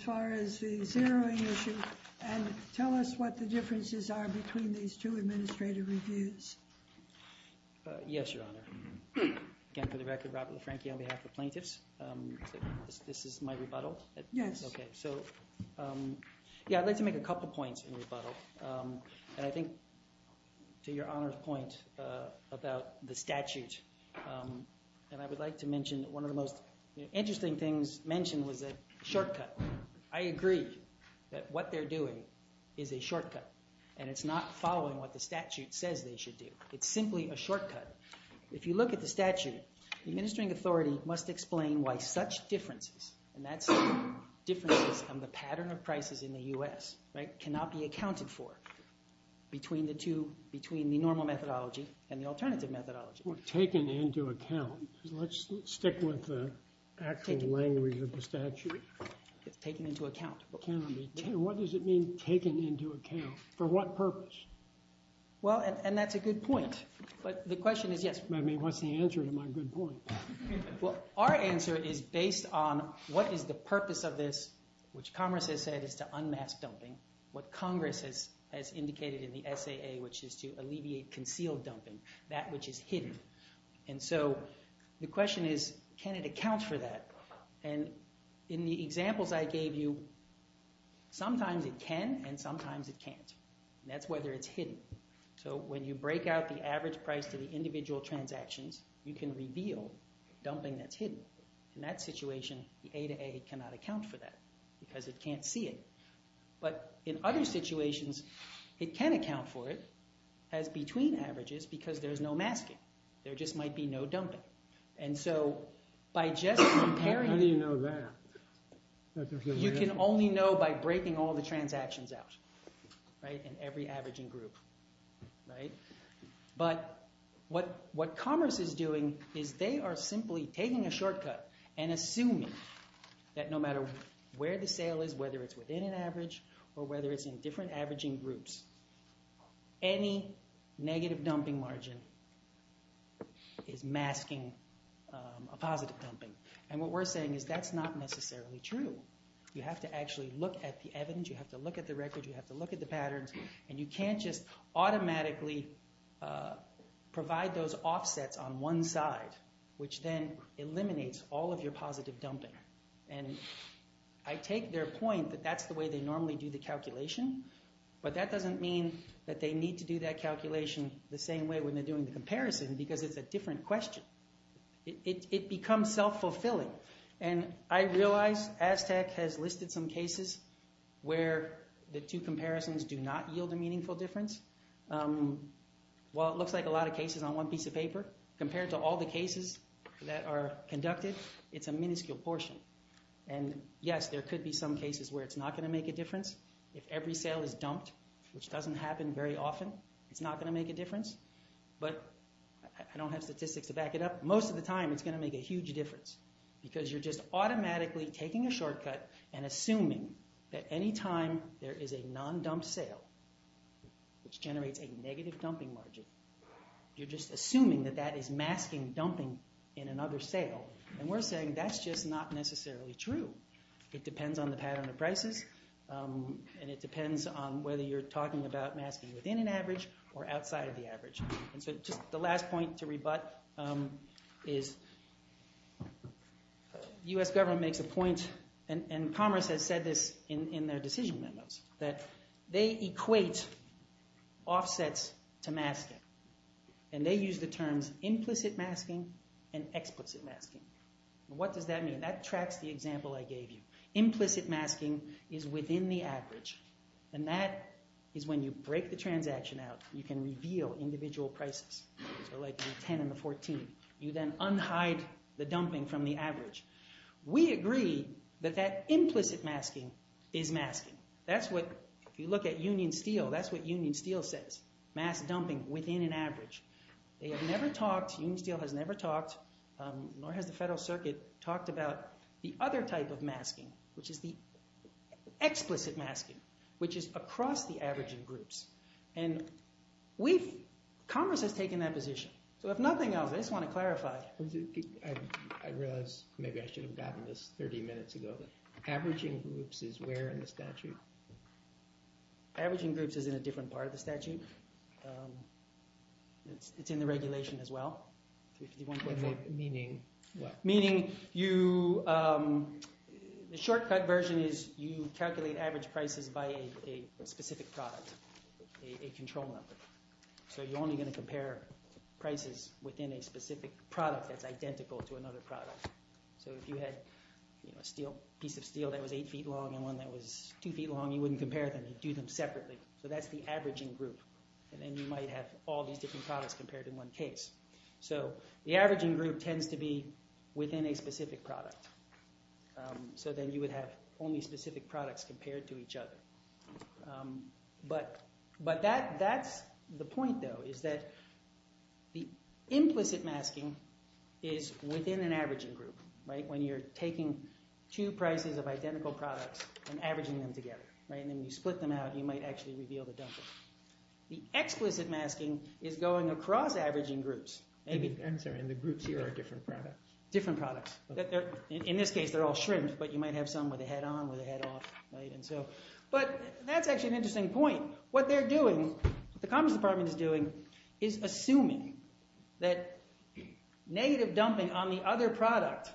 As far as the zeroing issue, and tell us what the differences are between these two administrative reviews. Yes, Your Honor. Again, for the record, Robert LaFranchi on behalf of plaintiffs, this is my rebuttal? Yes. Okay. So, yeah, I'd like to make a couple points in rebuttal. And I think, to Your Honor's point about the statute, and I would like to mention one of the most interesting things mentioned was a shortcut. I agree that what they're doing is a shortcut. And it's not following what the statute says they should do. It's simply a shortcut. If you look at the statute, the administering authority must explain why such differences, and that's differences from the pattern of prices in the U.S., right, cannot be accounted for between the two, between the normal methodology and the alternative methodology. Well, taken into account. Let's stick with the actual language of the statute. It's taken into account. What does it mean, taken into account? For what purpose? Well, and that's a good point. But the question is, yes. I mean, what's the answer to my good point? Well, our answer is based on what is the purpose of this, which Congress has said is to unmask dumping, what Congress has indicated in the SAA, which is to alleviate concealed dumping, that which is hidden. And so the question is, can it account for that? And in the examples I gave you, sometimes it can and sometimes it can't. And that's whether it's hidden. So when you break out the average price to the individual transactions, you can reveal dumping that's hidden. In that situation, the A to A cannot account for that because it can't see it. But in other situations, it can account for it as between averages because there's no masking. There just might be no dumping. And so by just comparing— How do you know that? You can only know by breaking all the transactions out, right, in every averaging group, right? But what Commerce is doing is they are simply taking a shortcut and assuming that no matter where the sale is, whether it's within an average or whether it's in different averaging groups, any negative dumping margin is masking a positive dumping. And what we're saying is that's not necessarily true. You have to actually look at the evidence. You have to look at the record. You have to look at the patterns. And you can't just automatically provide those offsets on one side, which then eliminates all of your positive dumping. And I take their point that that's the way they normally do the calculation. But that doesn't mean that they need to do that calculation the same way when they're doing the comparison because it's a different question. It becomes self-fulfilling. And I realize Aztec has listed some cases where the two comparisons do not yield a meaningful difference. While it looks like a lot of cases on one piece of paper, compared to all the cases that are conducted, it's a minuscule portion. And yes, there could be some cases where it's not going to make a difference. If every sale is dumped, which doesn't happen very often, it's not going to make a difference. But I don't have statistics to back it up. Most of the time, it's going to make a huge difference because you're just automatically taking a shortcut and assuming that any time there is a non-dumped sale, which generates a negative dumping margin, you're just assuming that that is masking dumping in another sale. And we're saying that's just not necessarily true. It depends on the pattern of prices. And it depends on whether you're talking about masking within an average or outside of the average. And so just the last point to rebut is the US government makes a point. And Commerce has said this in their decision memos, that they equate offsets to masking. And they use the terms implicit masking and explicit masking. What does that mean? That tracks the example I gave you. Implicit masking is within the average. And that is when you break the transaction out. You can reveal individual prices. So like the 10 and the 14. You then unhide the dumping from the average. We agree that that implicit masking is masking. That's what, if you look at Union Steel, that's what Union Steel says. Mass dumping within an average. They have never talked, Union Steel has never talked, nor has the Federal Circuit talked about the other type of masking, which is the explicit masking, which is across the average in groups. And Commerce has taken that position. So if nothing else, I just want to clarify. I realize maybe I should have gotten this 30 minutes ago. Averaging groups is where in the statute? Averaging groups is in a different part of the statute. It's in the regulation as well. Meaning what? Meaning you, the shortcut version is you calculate average prices by a specific product, a control number. So you're only going to compare prices within a specific product that's identical to another product. So if you had a piece of steel that was eight feet long and one that was two feet long, you wouldn't compare them. You'd do them separately. So that's the averaging group. And then you might have all these different products compared in one case. So the averaging group tends to be within a specific product. So then you would have only specific products compared to each other. But that's the point, though, is that the implicit masking is within an averaging group. When you're taking two prices of identical products and averaging them together. And then you split them out, you might actually reveal the dumping. The explicit masking is going across averaging groups. And the groups here are different products. Different products. In this case, they're all shrimp, but you might have some with a head on, with a head off. But that's actually an interesting point. What they're doing, what the Commerce Department is doing, is assuming that negative dumping on the other product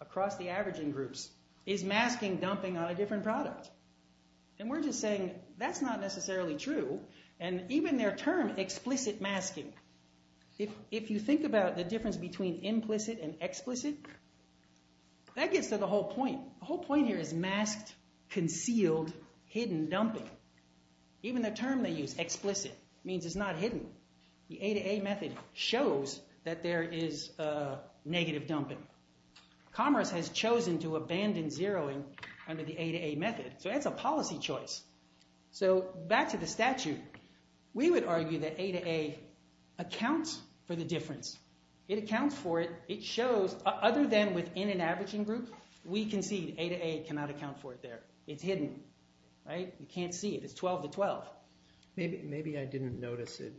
across the averaging groups is masking dumping on a different product. And we're just saying, that's not necessarily true. And even their term, explicit masking, if you think about the difference between implicit and explicit, that gets to the whole point. The whole point here is masked, concealed, hidden dumping. Even the term they use, explicit, means it's not hidden. The A to A method shows that there is negative dumping. Commerce has chosen to abandon zeroing under the A to A method. So that's a policy choice. So back to the statute. We would argue that A to A accounts for the difference. It accounts for it. Other than within an averaging group, we concede A to A cannot account for it there. It's hidden. You can't see it. It's 12 to 12. Maybe I didn't notice it.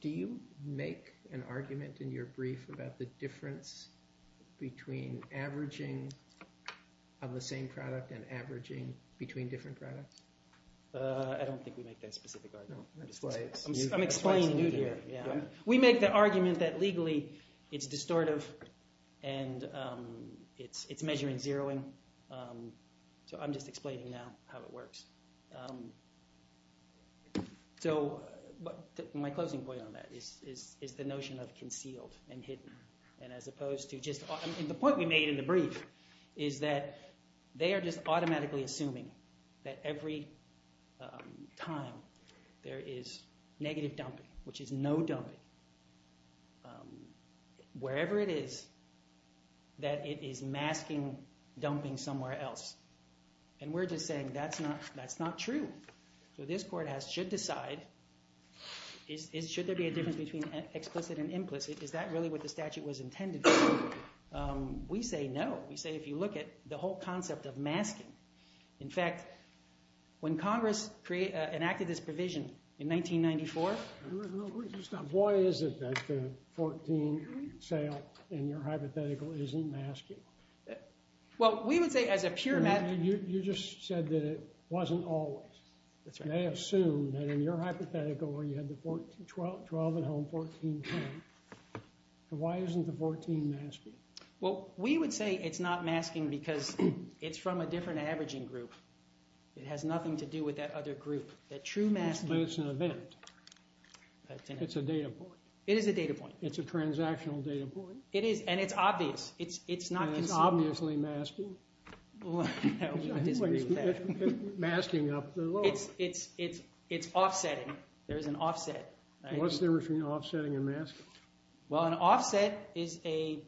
Do you make an argument in your brief about the difference between averaging on the same product and averaging between different products? I don't think we make that specific argument. I'm explaining to you here. We make the argument that legally it's distortive and it's measuring zeroing. So I'm just explaining now how it works. So my closing point on that is the notion of concealed and hidden. And the point we made in the brief is that they are just automatically assuming that every time there is negative dumping, which is no dumping, wherever it is that it is masking dumping somewhere else. And we're just saying that's not true. So this court should decide, should there be a difference between explicit and implicit? Is that really what the statute was intended for? We say no. We say if you look at the whole concept of masking. In fact, when Congress enacted this provision in 1994. Why is it that the 14 sale in your hypothetical isn't masking? Well, we would say as a pure matter. You just said that it wasn't always. They assume that in your hypothetical where you had the 12 at home, 14 at home. Why isn't the 14 masking? Well, we would say it's not masking because it's from a different averaging group. It has nothing to do with that other group. That true masking. But it's an event. It's a data point. It is a data point. It's a transactional data point. It is, and it's obvious. It's not concealed. And it's obviously masking. Well, I disagree with that. Masking up the lower. It's offsetting. There's an offset. What's the difference between offsetting and masking? Well, an offset is a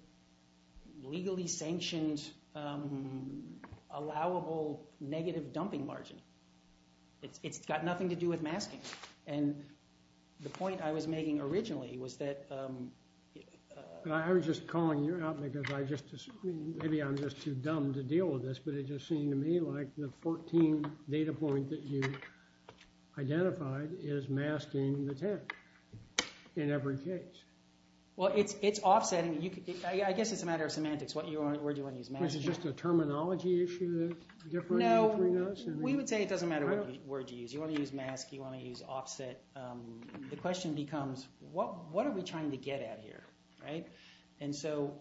legally sanctioned allowable negative dumping margin. It's got nothing to do with masking. And the point I was making originally was that. I was just calling you out because maybe I'm just too dumb to deal with this. But it just seemed to me like the 14 data point that you identified is masking the 10 in every case. Well, it's offsetting. I guess it's a matter of semantics. Where do you want to use masking? Is it just a terminology issue that's different between us? No. We would say it doesn't matter what word you use. You want to use mask. You want to use offset. The question becomes, what are we trying to get at here? And so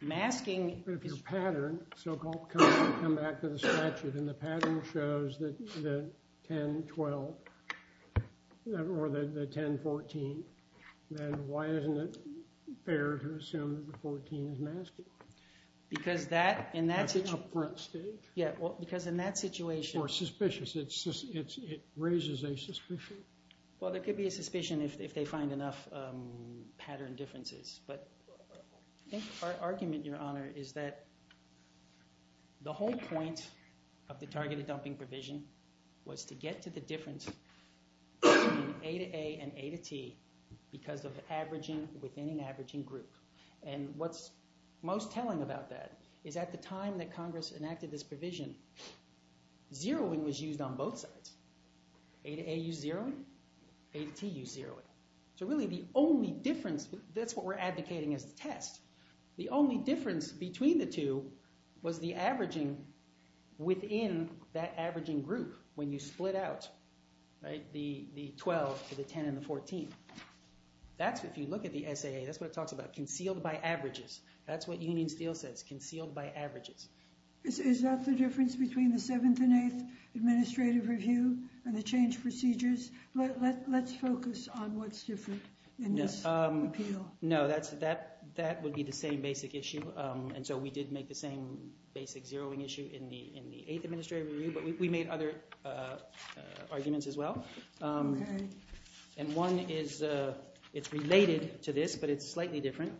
masking. But if your pattern so-called comes back to the statute, and the pattern shows that the 10, 12, or the 10, 14, then why isn't it fair to assume that the 14 is masking? Because that, in that situation. That's a front stage. Yeah. Because in that situation. Or suspicious. It raises a suspicion. Well, there could be a suspicion if they find enough pattern differences. But I think our argument, Your Honor, is that the whole point of the targeted dumping provision was to get to the difference in A to A and A to T because of averaging within an averaging group. And what's most telling about that is at the time that Congress enacted this provision, zeroing was used on both sides. A to A used zeroing. A to T used zeroing. So really, the only difference, that's what we're advocating as a test. The only difference between the two was the averaging within that averaging group when you split out the 12 to the 10 and the 14. If you look at the SAA, that's what it talks about. Concealed by averages. That's what Union Steel says. Concealed by averages. Is that the difference between the 7th and 8th administrative review and the change procedures? Let's focus on what's different in this appeal. No. That would be the same basic issue. And so we did make the same basic zeroing issue in the 8th administrative review. But we made other arguments as well. And one is, it's related to this, but it's slightly different.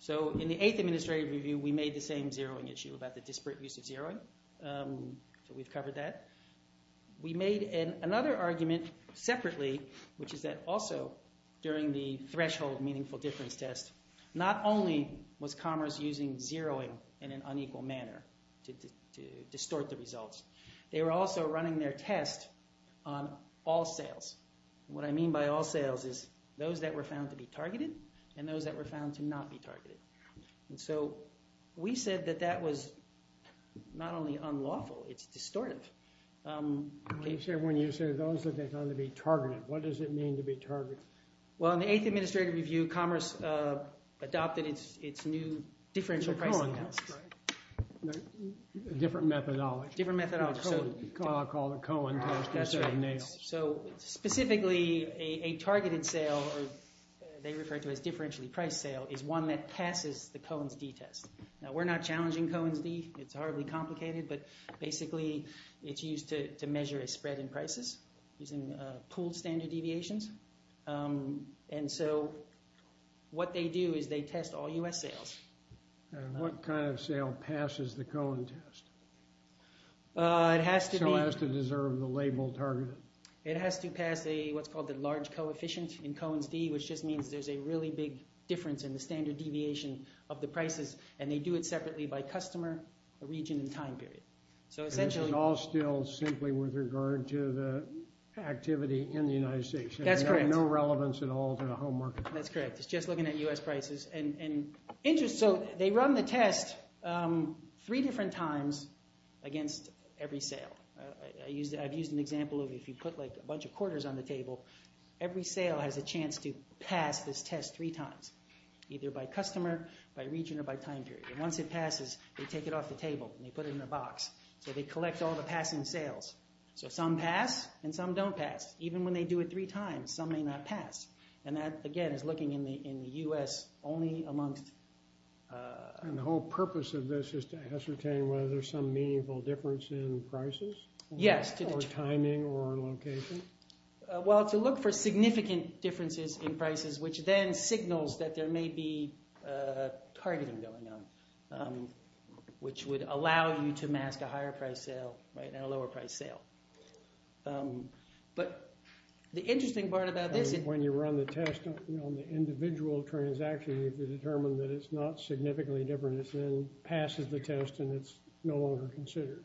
So in the 8th administrative review, we made the same zeroing issue about the disparate use of zeroing. We've covered that. We made another argument separately, which is that also during the threshold meaningful difference test, not only was Commerce using zeroing in an unequal manner to distort the results, they were also running their test on all sales. What I mean by all sales is those that were found to be targeted and those that were found to not be targeted. And so we said that that was not only unlawful, it's distortive. When you say those that they found to be targeted, what does it mean to be targeted? Well, in the 8th administrative review, Commerce adopted its new differential pricing test. Different methodology. Different methodology. I'll call it the Cohen test. So specifically, a targeted sale, or they refer to it as differentially priced sale, is one that passes the Cohen's d test. Now, we're not challenging Cohen's d. It's horribly complicated, but basically it's used to measure a spread in prices using pooled standard deviations. And so what they do is they test all U.S. sales. And what kind of sale passes the Cohen test? It has to be... So it has to deserve the label targeted. It has to pass what's called the large coefficient in Cohen's d, which just means there's a really big difference in the standard deviation of the prices, and they do it separately by customer, region, and time period. So essentially... It's all still simply with regard to the activity in the United States. That's correct. No relevance at all to the home market. That's correct. It's just looking at U.S. prices and interest. So they run the test three different times against every sale. I've used an example of if you put a bunch of quarters on the table, every sale has a chance to pass this test three times, either by customer, by region, or by time period. And once it passes, they take it off the table and they put it in a box. So they collect all the passing sales. So some pass and some don't pass. Even when they do it three times, some may not pass. And that, again, is looking in the U.S. only amongst... And the whole purpose of this is to ascertain whether there's some meaningful difference in prices? Yes. Or timing or location? Well, to look for significant differences in prices, which then signals that there may be targeting going on, which would allow you to mask a higher-priced sale and a lower-priced sale. But the interesting part about this is... When you run the test on the individual transaction, you determine that it's not significantly different. It then passes the test and it's no longer considered.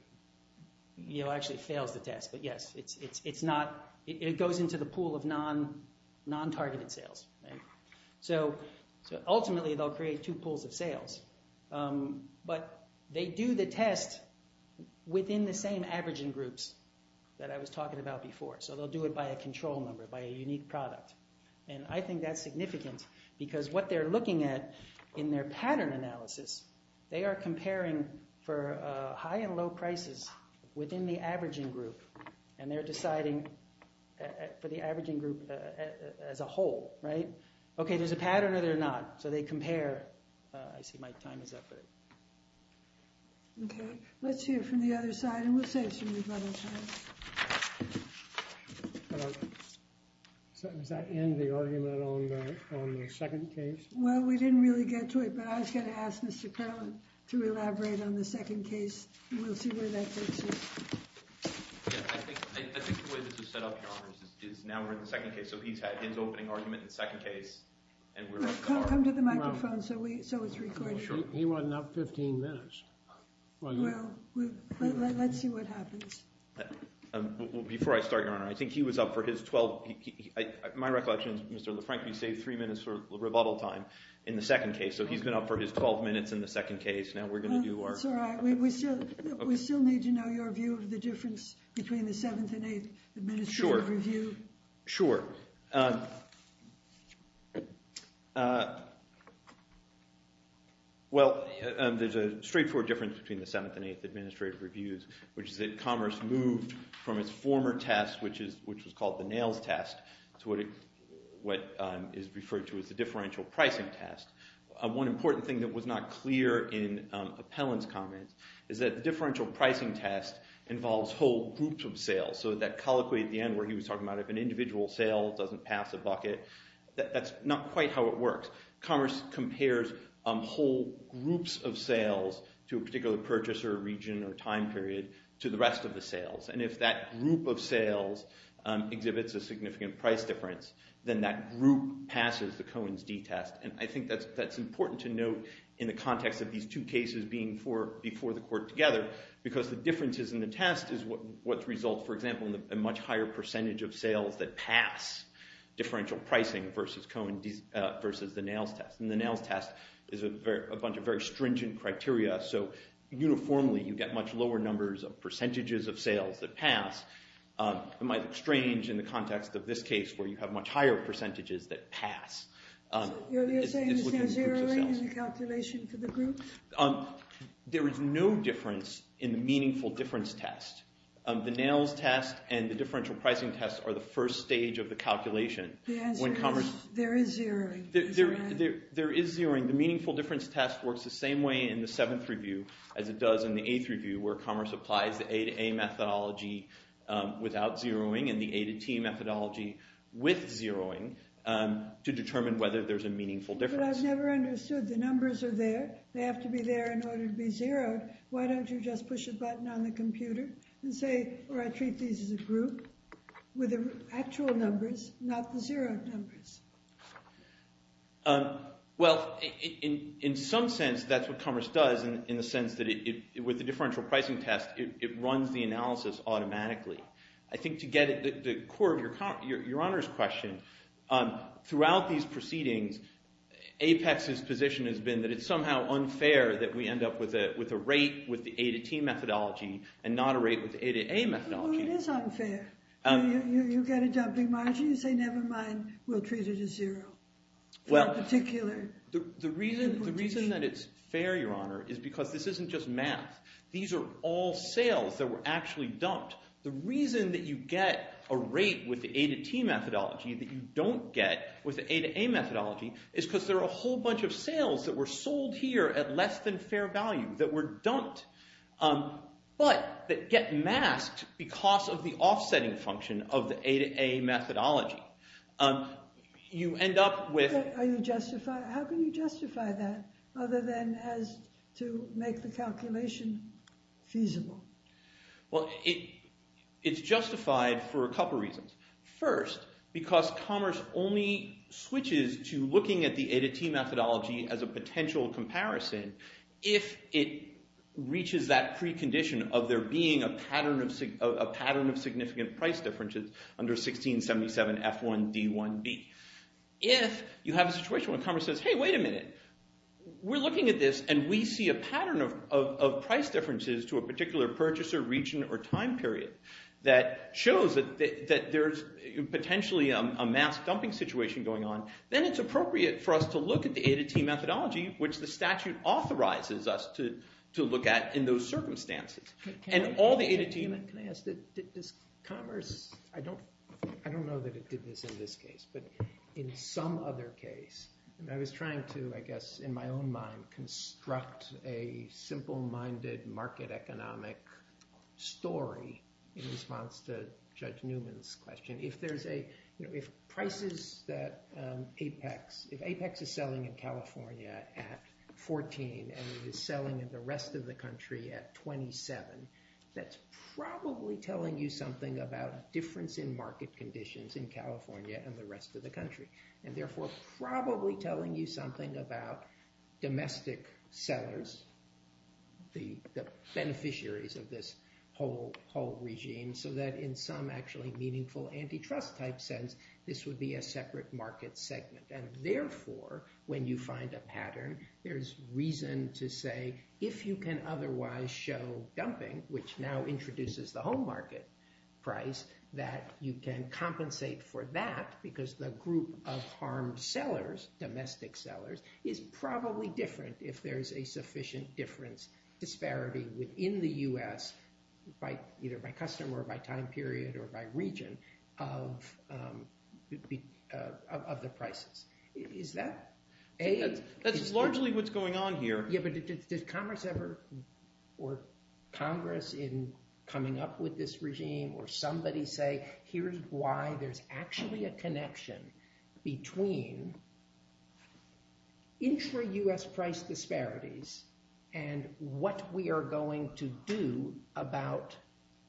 Actually, it fails the test. But yes, it goes into the pool of non-targeted sales. So ultimately, they'll create two pools of sales. But they do the test within the same averaging groups that I was talking about before. So they'll do it by a control number, by a unique product. And I think that's significant because what they're looking at in their pattern analysis, they are comparing for high and low prices within the averaging group. And they're deciding for the averaging group as a whole, right? Okay, there's a pattern or they're not. So they compare. I see my time is up. Okay, let's hear from the other side. And we'll save some of your time. So does that end the argument on the second case? Well, we didn't really get to it. But I was going to ask Mr. Perlin to elaborate on the second case. We'll see where that takes us. I think the way this was set up, Your Honor, is now we're in the second case. So he's had his opening argument in the second case. Come to the microphone so it's recorded. He wasn't up 15 minutes. Well, let's see what happens. Before I start, Your Honor, I think he was up for his 12th. My recollection is Mr. LaFranchi saved three minutes for rebuttal time in the second case. So he's been up for his 12 minutes in the second case. Now we're going to do our… That's all right. We still need to know your view of the difference between the 7th and 8th Administrative Review. Sure. Well, there's a straightforward difference between the 7th and 8th Administrative Reviews, which is that Commerce moved from its former test, which was called the Nails Test, to what is referred to as the Differential Pricing Test. One important thing that was not clear in Appellant's comments is that the Differential Pricing Test involves whole groups of sales. So that colloquy at the end where he was talking about if an individual sale doesn't pass a bucket, that's not quite how it works. Commerce compares whole groups of sales to a particular purchaser, region, or time period to the rest of the sales. And if that group of sales exhibits a significant price difference, then that group passes the Cohen's d-test. And I think that's important to note in the context of these two cases being before the court together, because the differences in the test is what results, for example, in a much higher percentage of sales that pass Differential Pricing versus the Nails Test. And the Nails Test is a bunch of very stringent criteria, so uniformly you get much lower numbers of percentages of sales that pass. It might look strange in the context of this case where you have much higher percentages that pass. So you're saying there's no zeroing in the calculation for the group? There is no difference in the Meaningful Difference Test. The Nails Test and the Differential Pricing Test are the first stage of the calculation. The answer is there is zeroing. There is zeroing. The Meaningful Difference Test works the same way in the Seventh Review as it does in the Eighth Review, where Commerce applies the A-to-A methodology without zeroing and the A-to-T methodology with zeroing to determine whether there's a meaningful difference. But I've never understood. The numbers are there. They have to be there in order to be zeroed. Why don't you just push a button on the computer and say, or I treat these as a group with the actual numbers, not the zeroed numbers? Well, in some sense, that's what Commerce does in the sense that with the Differential Pricing Test, it runs the analysis automatically. I think to get at the core of Your Honor's question, throughout these proceedings, Apex's position has been that it's somehow unfair that we end up with a rate with the A-to-T methodology and not a rate with the A-to-A methodology. No, it is unfair. You get a dumping margin. You say, never mind. We'll treat it as zero. Well, the reason that it's fair, Your Honor, is because this isn't just math. These are all sales that were actually dumped. The reason that you get a rate with the A-to-T methodology that you don't get with the A-to-A methodology is because there are a whole bunch of sales that were sold here at less than fair value, that were dumped, but that get masked because of the offsetting function of the A-to-A methodology. You end up with- How can you justify that other than as to make the calculation feasible? Well, it's justified for a couple reasons. First, because Commerce only switches to looking at the A-to-T methodology as a potential comparison if it reaches that precondition of there being a pattern of significant price differences under 1677 F1D1B. If you have a situation where Commerce says, hey, wait a minute. We're looking at this and we see a pattern of price differences to a particular purchaser, region, or time period that shows that there's potentially a mass dumping situation going on, then it's appropriate for us to look at the A-to-T methodology, which the statute authorizes us to look at in those circumstances. And all the A-to-T- Can I ask, is Commerce- I don't know that it did this in this case, but in some other case, I was trying to, I guess, in my own mind, construct a simple-minded market economic story in response to Judge Newman's question. If there's a- if prices that Apex- if Apex is selling in California at 14 and it is selling in the rest of the country at 27, that's probably telling you something and the rest of the country. And therefore, probably telling you something about domestic sellers, the beneficiaries of this whole regime, so that in some actually meaningful antitrust type sense, this would be a separate market segment. And therefore, when you find a pattern, there's reason to say, if you can otherwise show dumping, which now introduces the home market price, that you can compensate for that because the group of harmed sellers, domestic sellers, is probably different if there's a sufficient difference disparity within the U.S. by either by customer or by time period or by region of the prices. Is that- That's largely what's going on here. Yeah, but did Commerce ever, or Congress in coming up with this regime or somebody say, here's why there's actually a connection between intra-U.S. price disparities and what we are going to do about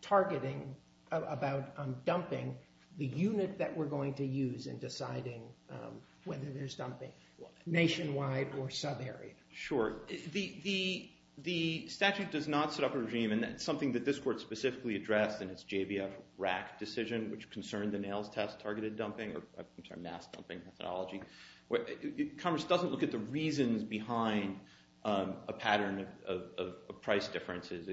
targeting, about dumping the unit that we're going to use in deciding whether there's dumping nationwide or sub-area? Sure. The statute does not set up a regime and that's something that this court specifically addressed in its JVF RAC decision, which concerned the nails test targeted dumping or mass dumping methodology. Commerce doesn't look at the reasons behind a pattern of price differences.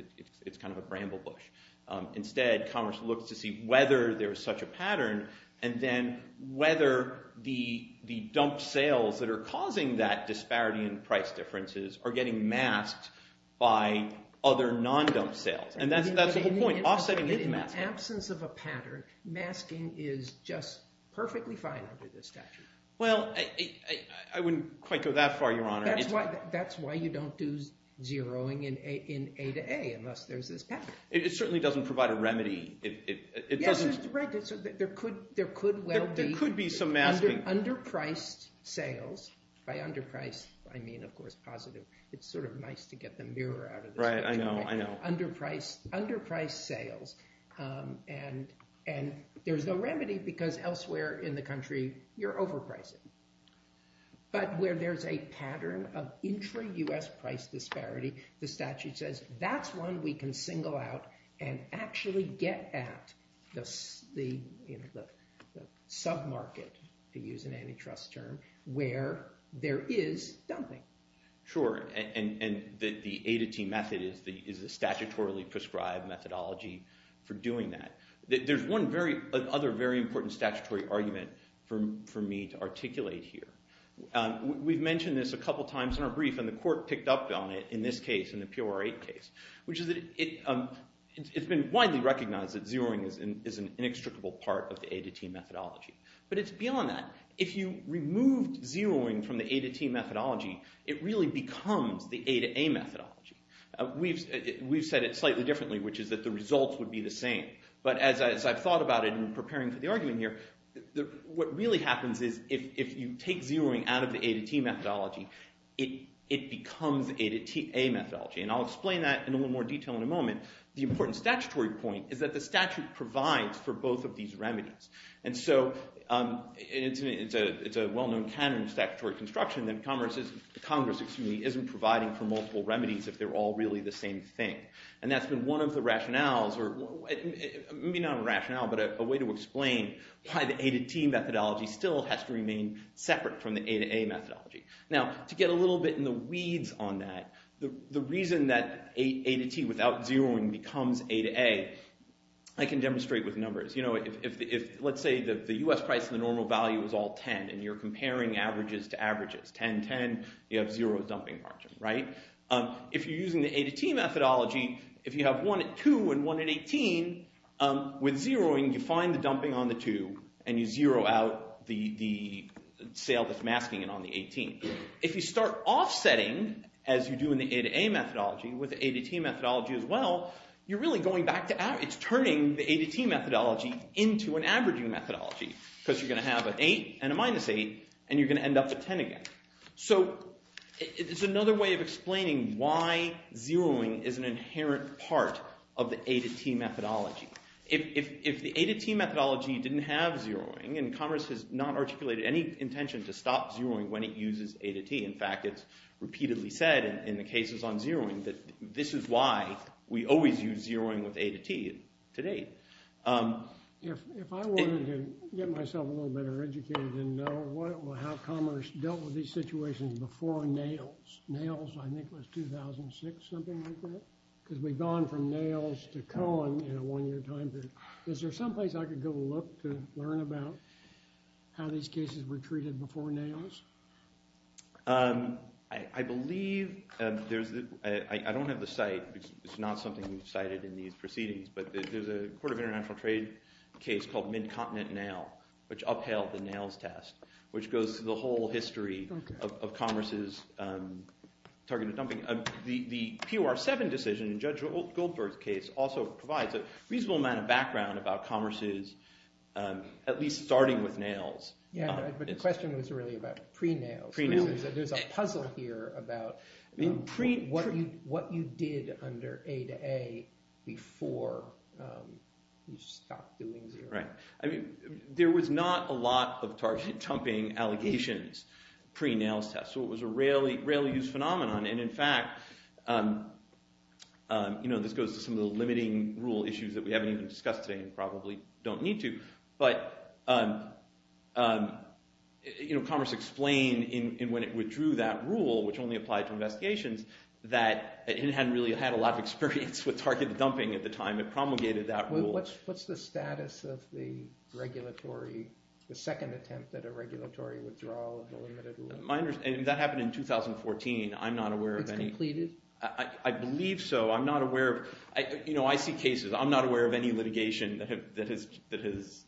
It's kind of a bramble bush. Instead, Commerce looks to see whether there is such a pattern and then whether the dump sales that are causing that disparity in price differences are getting masked by other non-dump sales. And that's the whole point. In the absence of a pattern, masking is just perfectly fine under this statute. Well, I wouldn't quite go that far, Your Honor. That's why you don't do zeroing in A to A unless there's this pattern. It certainly doesn't provide a remedy. There could well be underpriced sales. By underpriced, I mean, of course, positive. It's sort of nice to get the mirror out of this picture. Right, I know, I know. Underpriced sales. And there's no remedy because elsewhere in the country you're overpricing. But where there's a pattern of intra-U.S. price disparity, the statute says that's one we can single out and actually get at the sub-market, to use an antitrust term, where there is dumping. Sure, and the A-to-T method is a statutorily prescribed methodology for doing that. There's one other very important statutory argument for me to articulate here. We've mentioned this a couple times in our brief and the court picked up on it in this case, in the POR8 case, which is that it's been widely recognized that zeroing is an inextricable part of the A-to-T methodology. But it's beyond that. If you removed zeroing from the A-to-T methodology, it really becomes the A-to-A methodology. We've said it slightly differently, which is that the results would be the same. But as I've thought about it in preparing for the argument here, what really happens is if you take zeroing out of the A-to-T methodology, it becomes the A-to-T methodology. And I'll explain that in a little more detail in a moment. The important statutory point is that the statute provides for both of these remedies. And so it's a well-known canon of statutory construction that Congress isn't providing for multiple remedies if they're all really the same thing. And that's been one of the rationales, or maybe not a rationale, but a way to explain why the A-to-T methodology still has to remain separate from the A-to-A methodology. Now, to get a little bit in the weeds on that, the reason that A-to-T without zeroing becomes A-to-A, I can demonstrate with numbers. You know, if, let's say, the U.S. price and the normal value is all 10 and you're comparing averages to averages, 10, 10, you have zero dumping margin, right? If you're using the A-to-T methodology, if you have one at 2 and one at 18, with zeroing, you find the dumping on the 2 and you zero out the sale that's masking it on the 18. If you start offsetting, as you do in the A-to-A methodology, with the A-to-T methodology as well, you're really going back to... It's turning the A-to-T methodology into an averaging methodology because you're going to have an 8 and a minus 8 and you're going to end up with 10 again. So it's another way of explaining why zeroing is an inherent part of the A-to-T methodology. If the A-to-T methodology didn't have zeroing and Congress has not articulated any intention to stop zeroing when it uses A-to-T, in fact, it's repeatedly said in the cases on zeroing that this is why we always use zeroing with A-to-T to date. If I wanted to get myself a little better educated and know how Congress dealt with these situations before NAILS... NAILS, I think, was 2006, something like that? Because we've gone from NAILS to Cohen in a one-year time period. Is there someplace I could go look to learn about how these cases were treated before NAILS? I believe there's... I don't have the site. It's not something we've cited in these proceedings, but there's a Court of International Trade case called Mid-Continent NAIL, which upheld the NAILS test, which goes through the whole history of Congress's targeted dumping. The POR7 decision in Judge Goldberg's case also provides a reasonable amount of background about Congress's at least starting with NAILS... Yeah, but the question was really about pre-NAILS. There's a puzzle here about what you did under A-to-A before you stopped doing zero. Right. I mean, there was not a lot of targeted dumping allegations pre-NAILS test, so it was a rarely used phenomenon, and in fact, you know, this goes to some of the limiting rule issues that we haven't even discussed today and probably don't need to, but, you know, Congress explained when it withdrew that rule, which only applied to investigations, that it hadn't really had a lot of experience with targeted dumping at the time. It promulgated that rule. What's the status of the regulatory, the second attempt at a regulatory withdrawal of the limited rule? That happened in 2014. I'm not aware of any... It's completed? I believe so. I'm not aware of... You know, I see cases. I'm not aware of any litigation that has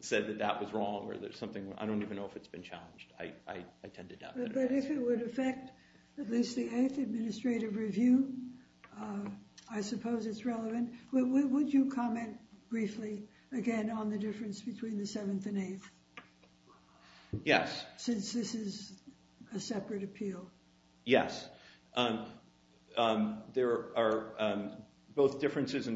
said that that was wrong or there's something... I don't even know if it's been challenged. I tend to doubt that. But if it would affect at least the 8th Administrative Review, I suppose it's relevant. Would you comment briefly, again, on the difference between the 7th and 8th? Yes. Since this is a separate appeal. Yes. There are both differences...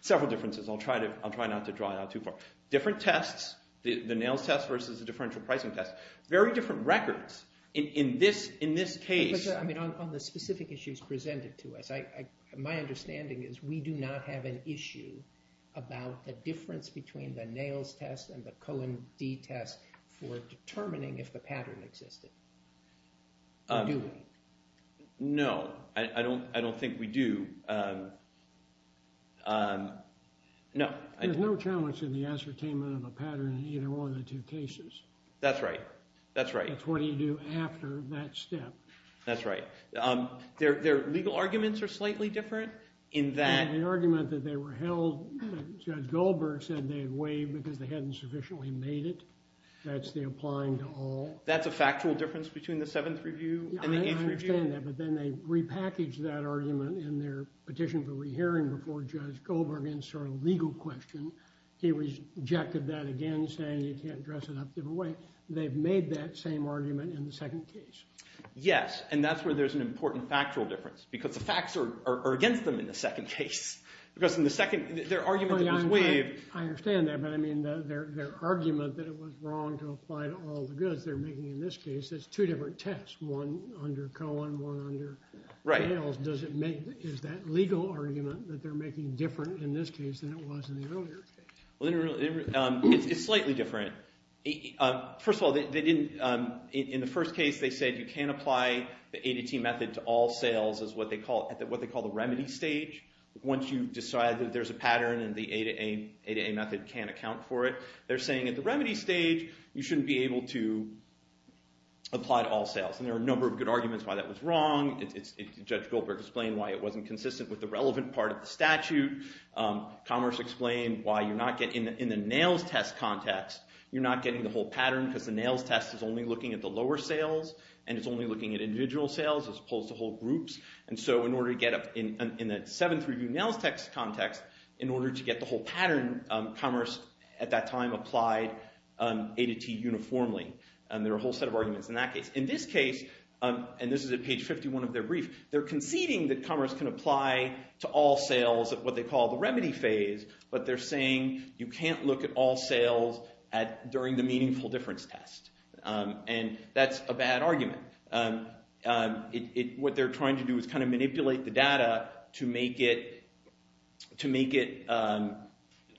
Several differences. I'll try not to draw it out too far. Different tests, the NAILS test versus the differential pricing test. Very different records. In this case... On the specific issues presented to us, my understanding is we do not have an issue about the difference between the NAILS test and the Cohen D test for determining if the pattern existed. Do we? No. I don't think we do. No. There's no challenge in the ascertainment of a pattern in either one of the two cases. That's right. That's right. That's right. Their legal arguments are slightly different in that... The argument that they were held... Judge Goldberg said they had waived because they hadn't sufficiently made it. That's the applying to all. That's a factual difference between the 7th Review and the 8th Review? I understand that, but then they repackaged that argument in their petition for rehearing before Judge Goldberg in sort of legal question. He rejected that again, saying you can't dress it up a different way. They've made that same argument in the second case. Yes. And that's where there's an important factual difference because the facts are against them in the second case. Because in the second... Their argument that it was waived... I understand that, but I mean their argument that it was wrong to apply to all the goods they're making in this case, that's two different tests, one under Cohen, one under NAILS. Does it make... Is that legal argument that they're making different in this case than it was in the earlier case? It's slightly different. First of all, they didn't... In the first case, they said you can't apply the A-to-T method to all sales at what they call the remedy stage. Once you decide that there's a pattern and the A-to-A method can't account for it, they're saying at the remedy stage, you shouldn't be able to apply to all sales. And there are a number of good arguments why that was wrong. Judge Goldberg explained why it wasn't consistent with the relevant part of the statute. Commerce explained why you're not getting... In the NAILS test context, you're not getting the whole pattern because the NAILS test is only looking at the lower sales and it's only looking at individual sales as opposed to whole groups. And so in order to get up... In the Seventh Review NAILS test context, in order to get the whole pattern, commerce at that time applied A-to-T uniformly. And there are a whole set of arguments in that case. In this case, and this is at page 51 of their brief, they're conceding that commerce can apply to all sales at what they call the remedy phase, but they're saying you can't look at all sales during the meaningful difference test. And that's a bad argument. What they're trying to do is kind of manipulate the data to make it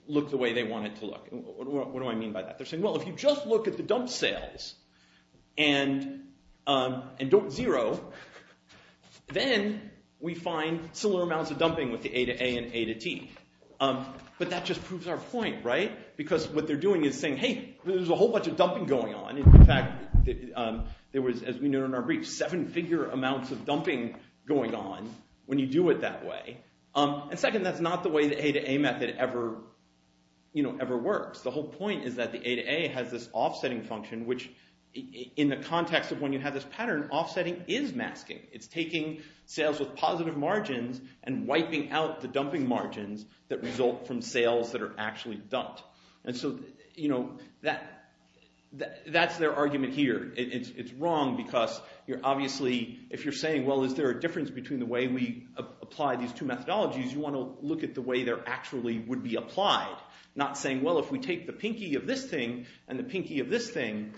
look the way they want it to look. What do I mean by that? They're saying, well, if you just look at the dump sales and don't zero, then we find similar amounts of dumping with the A-to-A and A-to-T. But that just proves our point, right? Because what they're doing is saying, hey, there's a whole bunch of dumping going on. In fact, there was, as we know in our brief, seven-figure amounts of dumping going on when you do it that way. And second, that's not the way the A-to-A method ever works. The whole point is that the A-to-A has this offsetting function, which in the context of when you have this pattern, offsetting is masking. It's taking sales with positive margins and wiping out the dumping margins that result from sales that are actually dumped. And so that's their argument here. It's wrong because you're obviously, if you're saying, well, is there a difference between the way we apply these two methodologies, you want to look at the way they actually would be applied, not saying, well, if we take the pinky of this thing and the pinky of this thing,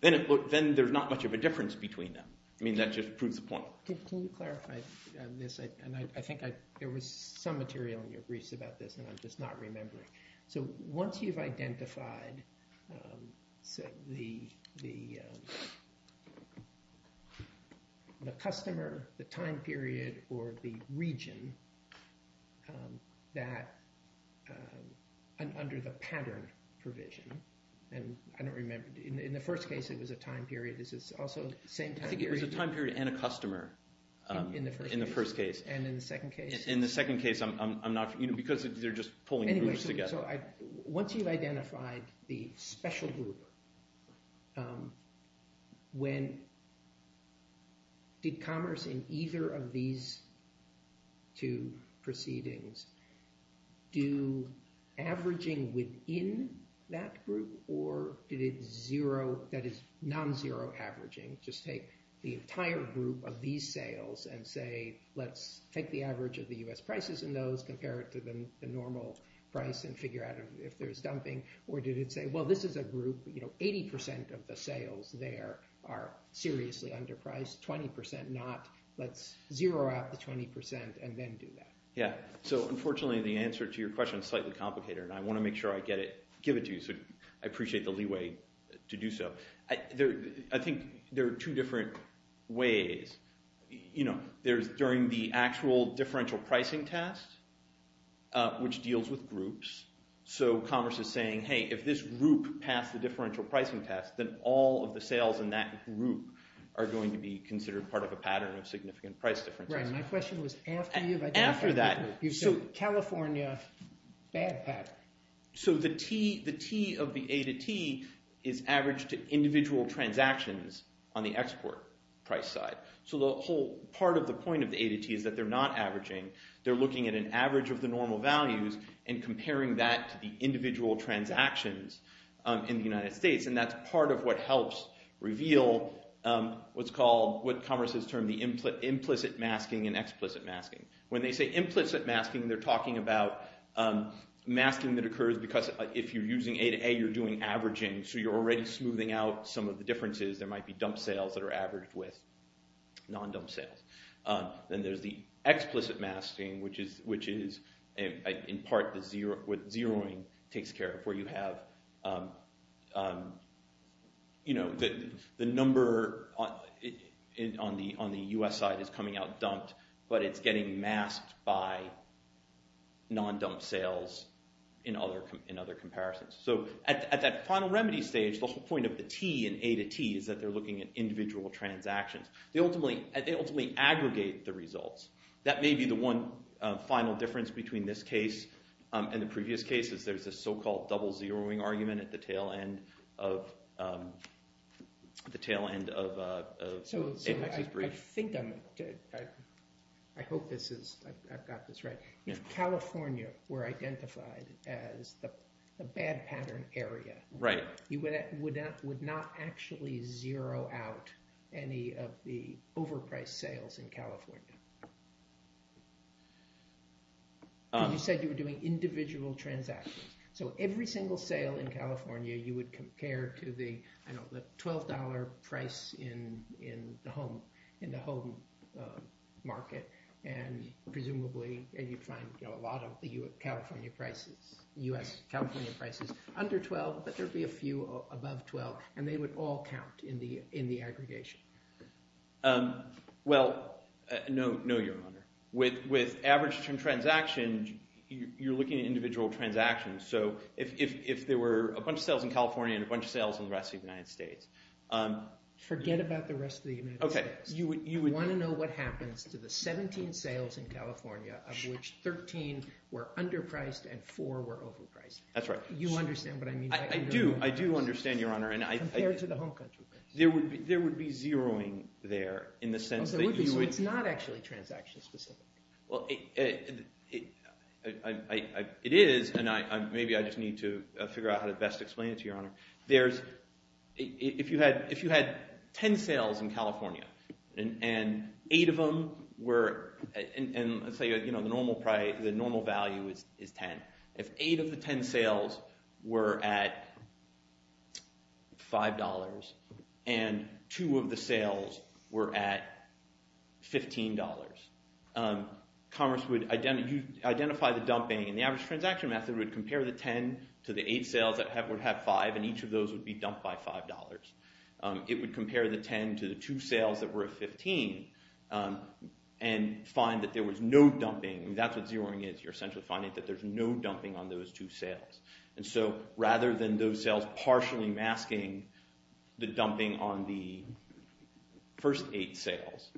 then there's not much of a difference between them. I mean, that just proves the point. Can you clarify this? And I think there was some material in your briefs about this and I'm just not remembering. So once you've identified the customer, the time period, or the region that, under the pattern provision, and I don't remember, in the first case, it was a time period. This is also the same time period. It was a time period and a customer in the first case. And in the second case? In the second case, because they're just pulling groups together. Anyway, so once you've identified the special group, when did commerce in either of these two proceedings do averaging within that group or did it zero, that is non-zero averaging, just take the entire group of these sales and say, let's take the average of the US prices in those, compare it to the normal price and figure out if there's dumping, or did it say, well, this is a group, 80% of the sales there are seriously underpriced, 20% not. Let's zero out the 20% and then do that. Yeah. So unfortunately, the answer to your question is slightly complicated and I want to make sure I give it to you so I appreciate the leeway to do so. I think there are two different ways. There's during the actual differential pricing test, which deals with groups. So commerce is saying, hey, if this group passed the differential pricing test, then all of the sales in that group are going to be considered part of a pattern of significant price differences. Right. My question was after you've identified the group. After that. So California, bad pattern. So the T of the A to T is averaged to individual transactions on the export price side. So the whole part of the point of the A to T is that they're not averaging. They're looking at an average of the normal values and comparing that to the individual transactions in the United States. And that's part of what helps reveal what's called, what commerce has termed the implicit masking and explicit masking. When they say implicit masking, they're talking about masking that occurs because if you're using A to A, you're doing averaging. So you're already smoothing out some of the differences. There might be dump sales that are averaged with non-dump sales. Then there's the explicit masking, which is in part what zeroing takes care of, where you have, you know, the number on the U.S. side is coming out dumped, but it's getting masked by non-dump sales in other comparisons. So at that final remedy stage, the whole point of the T and A to T is that they're looking at individual transactions. They ultimately aggregate the results. That may be the one final difference between this case and the previous cases. There's this so-called double zeroing argument at the tail end of Apex's breach. So I think I'm, I hope this is, I've got this right. If California were identified as the bad pattern area, you would not actually zero out any of the overpriced sales in California. You said you were doing individual transactions. So every single sale in California, you would compare to the, I don't know, the $12 price in the home market, and presumably, you'd find a lot of California prices, U.S. California prices, under $12, but there'd be a few above $12, and they would all count in the aggregation. Well, no, Your Honor. With average transaction, you're looking at individual transactions. So if there were a bunch of sales in California and a bunch of sales in the rest of the United States. Forget about the rest of the United States. You want to know what happens to the 17 sales in California of which 13 were underpriced and 4 were overpriced. That's right. You understand what I mean? I do. I do understand, Your Honor. Compared to the home country. There would be zeroing there in the sense that you would... So it's not actually transaction specific. Well, it is, and maybe I just need to figure out how to best explain it to Your Honor. If you had 10 sales in California and 8 of them were, and let's say the normal value is 10. If 8 of the 10 sales were at $5 and 2 of the sales were at $15, Commerce would identify the dumping and the average transaction method would compare the 10 to the 8 sales that would have 5 and each of those would be dumped by $5. It would compare the 10 to the 2 sales that were at 15 and find that there was no dumping. That's what zeroing is. You're essentially finding that there's no dumping on those 2 sales. And so rather than those sales partially masking the dumping on the first 8 sales,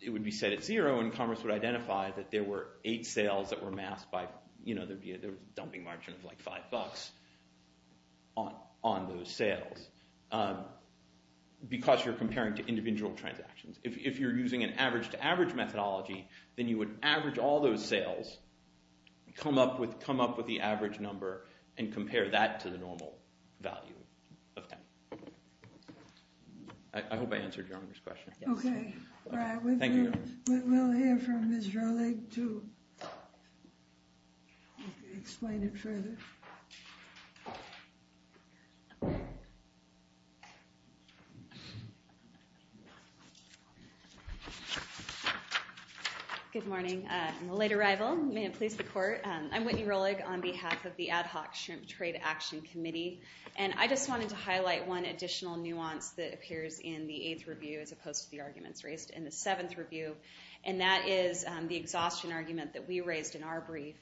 it would be set at zero and Commerce would identify that there were 8 sales that were masked by... There would be a dumping margin of like $5 on those sales because you're comparing to individual transactions. If you're using an average-to-average methodology, then you would average all those sales, come up with the average number and compare that to the normal value of 10. I hope I answered your honest question. Okay. Thank you. We'll hear from Ms. Rolig to explain it further. Good morning. In the late arrival, may it please the court, I'm Whitney Rolig on behalf of the Ad Hoc Shrimp Trade Action Committee. And I just wanted to highlight one additional nuance that appears in the 8th review as opposed to the arguments raised in the 7th review, and that is the exhaustion argument that we raised in our brief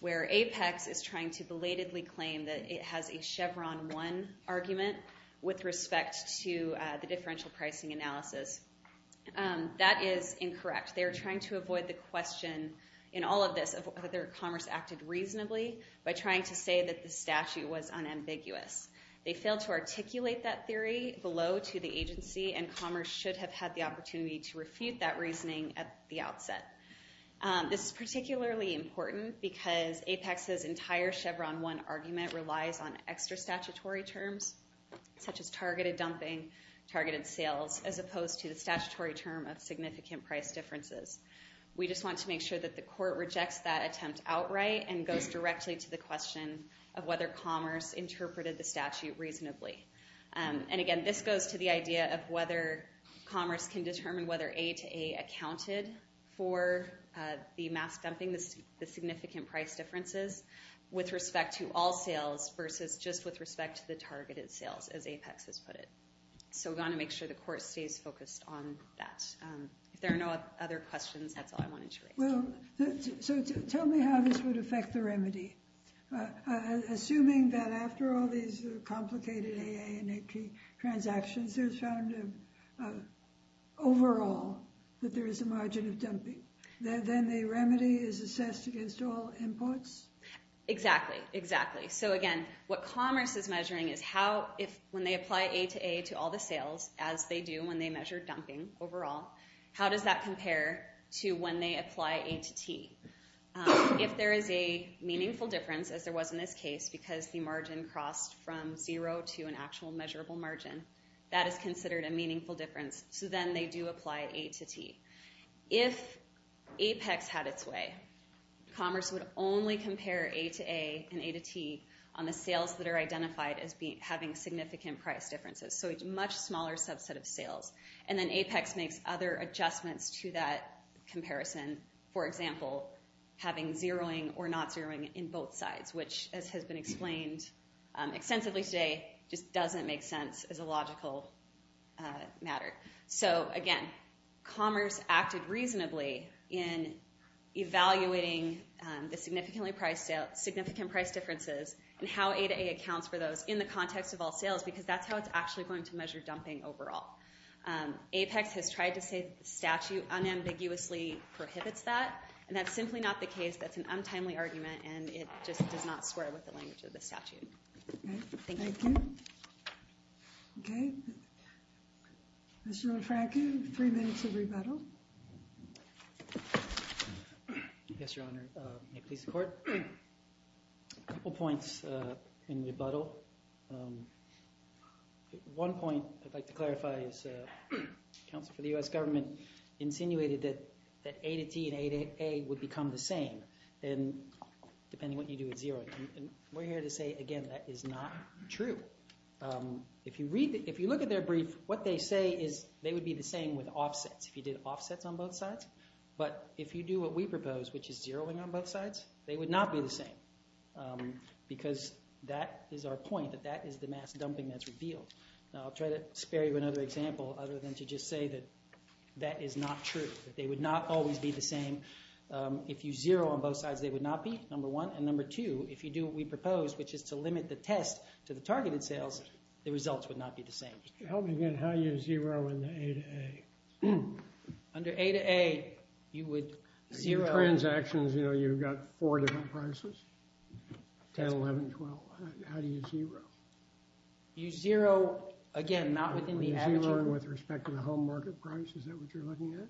where Apex is trying to belatedly claim that it has a Chevron 1 argument with respect to the differential pricing analysis. That is incorrect. They are trying to avoid the question in all of this of whether commerce acted reasonably by trying to say that the statute was unambiguous. They failed to articulate that theory below to the agency and commerce should have had the opportunity to refute that reasoning at the outset. This is particularly important because Apex's entire Chevron 1 argument relies on extra statutory terms such as targeted dumping, targeted sales, as opposed to the statutory term of significant price differences. We just want to make sure that the court rejects that attempt outright and goes directly to the question of whether commerce interpreted the statute reasonably. And again, this goes to the idea of whether commerce can determine whether A to A accounted for the mass dumping, the significant price differences with respect to all sales versus just with respect to the targeted sales, as Apex has put it. So we want to make sure the court stays focused on that. If there are no other questions, that's all I wanted to raise. Well, so tell me how this would affect the remedy. Assuming that after all these complicated AA and AP transactions, there's found overall that there is a margin of dumping. Then the remedy is assessed against all imports? Exactly, exactly. So again, what commerce is measuring is how if when they apply A to A to all the sales, as they do when they measure dumping overall, how does that compare to when they apply A to T? If there is a meaningful difference, as there was in this case, because the margin crossed from zero to an actual measurable margin, that is considered a meaningful difference. So then they do apply A to T. If Apex had its way, commerce would only compare A to A and A to T on the sales that are identified as having significant price differences. So it's a much smaller subset of sales. And then Apex makes other adjustments to that comparison. For example, having zeroing or not zeroing in both sides, which as has been explained extensively today just doesn't make sense as a logical matter. So again, commerce acted reasonably in evaluating the significant price differences and how A to A accounts for those in the context of all sales because that's how it's actually going to measure dumping overall. Apex has tried to say the statute unambiguously prohibits that, and that's simply not the case. That's an untimely argument and it just does not square with the language of the statute. Thank you. Thank you. Okay. Mr. LaFranca, three minutes of rebuttal. Yes, Your Honor. May it please the Court. A couple points in rebuttal. One point I'd like to clarify is the counsel for the U.S. government insinuated that A to T and A to A would become the same depending on what you do with zeroing. We're here to say, again, that is not true. If you look at their brief, what they say is they would be the same with offsets if you did offsets on both sides. But if you do what we propose, which is zeroing on both sides, they would not be the same because that is our point, that that is the mass dumping that's revealed. Now, I'll try to spare you another example other than to just say that that is not true, that they would not always be the same. If you zero on both sides, they would not be, number one, and number two, if you do what we propose, which is to limit the test to the targeted sales, the results would not be the same. Help me again. How do you zero in the A to A? Under A to A, you would zero... In transactions, you know, you've got four different prices, 10, 11, 12. How do you zero? You zero, again, not within the averaging group. Zeroing with respect to the home market price, is that what you're looking at?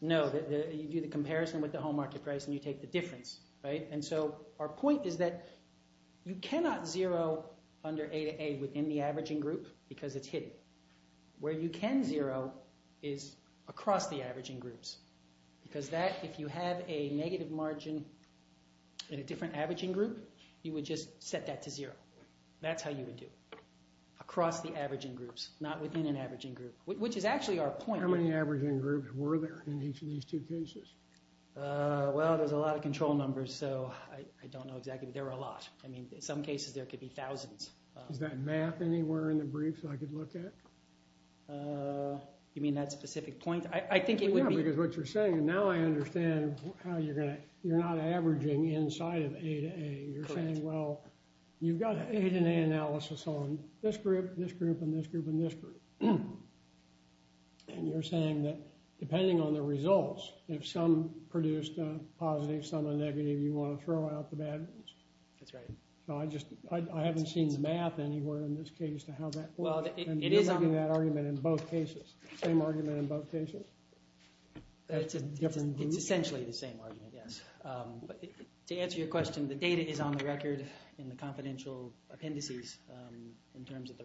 No. You do the comparison with the home market price and you take the difference, right? And so our point is that you cannot zero under A to A within the averaging group because it's hidden. Where you can zero is across the averaging groups because that, if you have a negative margin in a different averaging group, you would just set that to zero. That's how you would do it. Across the averaging groups, not within an averaging group, which is actually our point. How many averaging groups were there in each of these two cases? Well, there's a lot of control numbers, so I don't know exactly, but there were a lot. I mean, in some cases, there could be thousands. Is that mapped anywhere in the brief so I could look at it? You mean that specific point? I think it would be... Yeah, because what you're saying, now I understand how you're going to... You're not averaging inside of A to A. You're saying, well, you've got an A to A analysis on this group, this group, and this group, and this group. And you're saying that depending on the results, if some produced a positive, some a negative, you want to throw out the bad ones. That's right. I haven't seen the math anywhere in this case to how that works. And you're making that argument in both cases. Same argument in both cases. It's essentially the same argument, yes. But to answer your question, the data is on the record in the confidential appendices in terms of the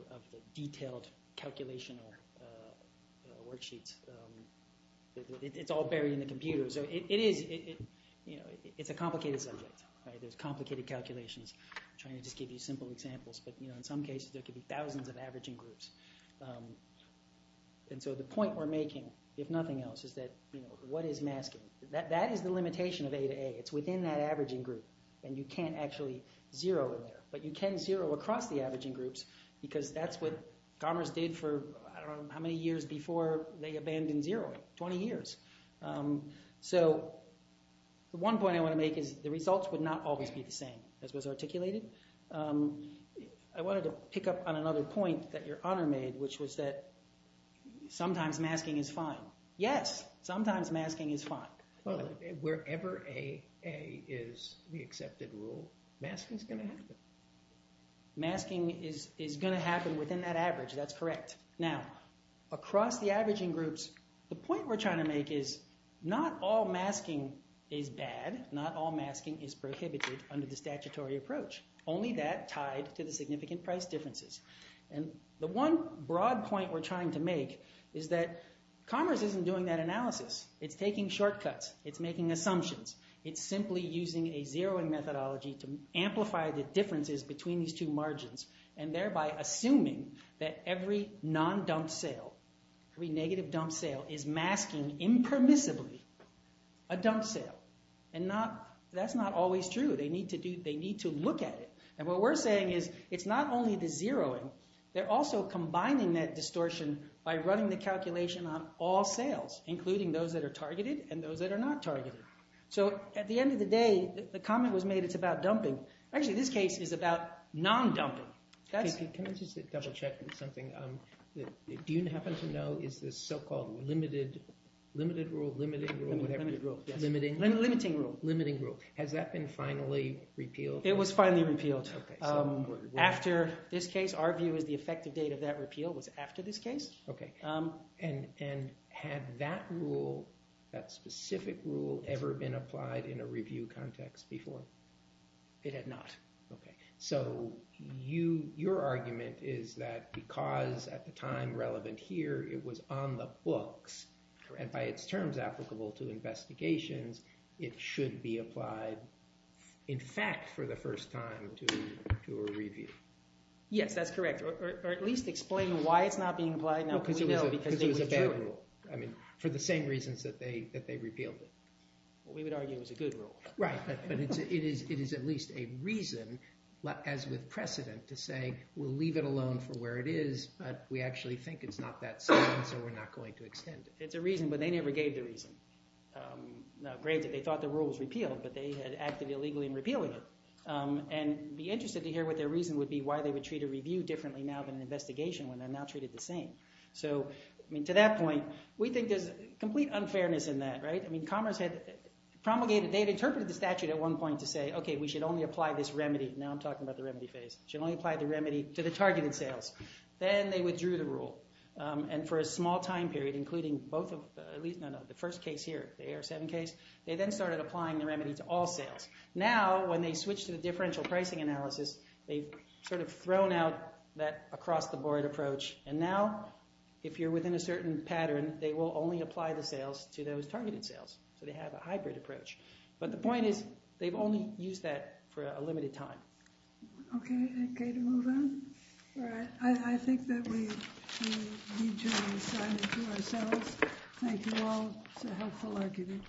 detailed calculation or worksheets. It's all buried in the computer. So it is... It's a complicated subject. There's complicated calculations. I'm trying to just give you simple examples, but in some cases, there could be thousands of averaging groups. And so the point we're making, if nothing else, is that what is masking? That is the limitation of A to A. It's within that averaging group. And you can't actually zero in there. But you can zero across the averaging groups because that's what Garmer's did for I don't know how many years before they abandoned zeroing. 20 years. So the one point I want to make is the results would not always be the same as was articulated. I wanted to pick up on another point that your honor made, which was that sometimes masking is fine. Yes, sometimes masking is fine. Wherever A is the accepted rule, masking is going to happen. Masking is going to happen within that average. That's correct. Now, across the averaging groups, the point we're trying to make is not all masking is bad. Not all masking is prohibited under the statutory approach. Only that tied to the significant price differences. And the one broad point we're trying to make is that Garmer's isn't doing that analysis. It's taking shortcuts. It's making assumptions. It's simply using a zeroing methodology to amplify the differences between these two margins and thereby assuming that every non-dump sale, every negative dump sale, is masking impermissibly a dump sale. And that's not always true. They need to look at it. And what we're saying is it's not only the zeroing. They're also combining that distortion by running the calculation on all sales, including those that are targeted and those that are not targeted. So at the end of the day, the comment was made it's about dumping. Actually, this case is about non-dumping. Can I just double-check something? Do you happen to know, is this so-called limited rule, limiting rule, whatever? Limiting rule. Limiting rule. Has that been finally repealed? It was finally repealed. Okay. After this case, our view is the effective date of that repeal was after this case. Okay. And had that rule, that specific rule, ever been applied in a review context before? It had not. Okay. So your argument is that because at the time relevant here, it was on the books and by its terms applicable to investigations, it should be applied, in fact, for the first time to a review. Yes, that's correct. Or at least explain why it's not being applied now. Because it was a bad rule. I mean, for the same reasons that they repealed it. We would argue it was a good rule. Right. But it is at least a reason, as with precedent, to say we'll leave it alone for where it is, but we actually think it's not that sad, so we're not going to extend it. It's a reason, but they never gave the reason. Granted, they thought the rule was repealed, but they had acted illegally in repealing it. And be interested to hear what their reason would be, why they would treat a review differently now than an investigation when they're now treated the same. So, I mean, to that point, we think there's complete unfairness in that, right? I mean, Commerce had promulgated, they had interpreted the statute at one point to say, okay, we should only apply this remedy. Now I'm talking about the remedy phase. Should only apply the remedy to the targeted sales. Then they withdrew the rule. And for a small time period, including both of, at least, no, no, the first case here, the AR-7 case, they then started applying the remedy to all sales. Now, when they switch to the differential pricing analysis, they've sort of thrown out that across-the-board approach. And now, if you're within a certain pattern, they will only apply the sales to those targeted sales. So they have a hybrid approach. But the point is, they've only used that for a limited time. Okay, okay, to move on? All right, I think that we need to sign it to ourselves. Thank you all. It's a helpful argument.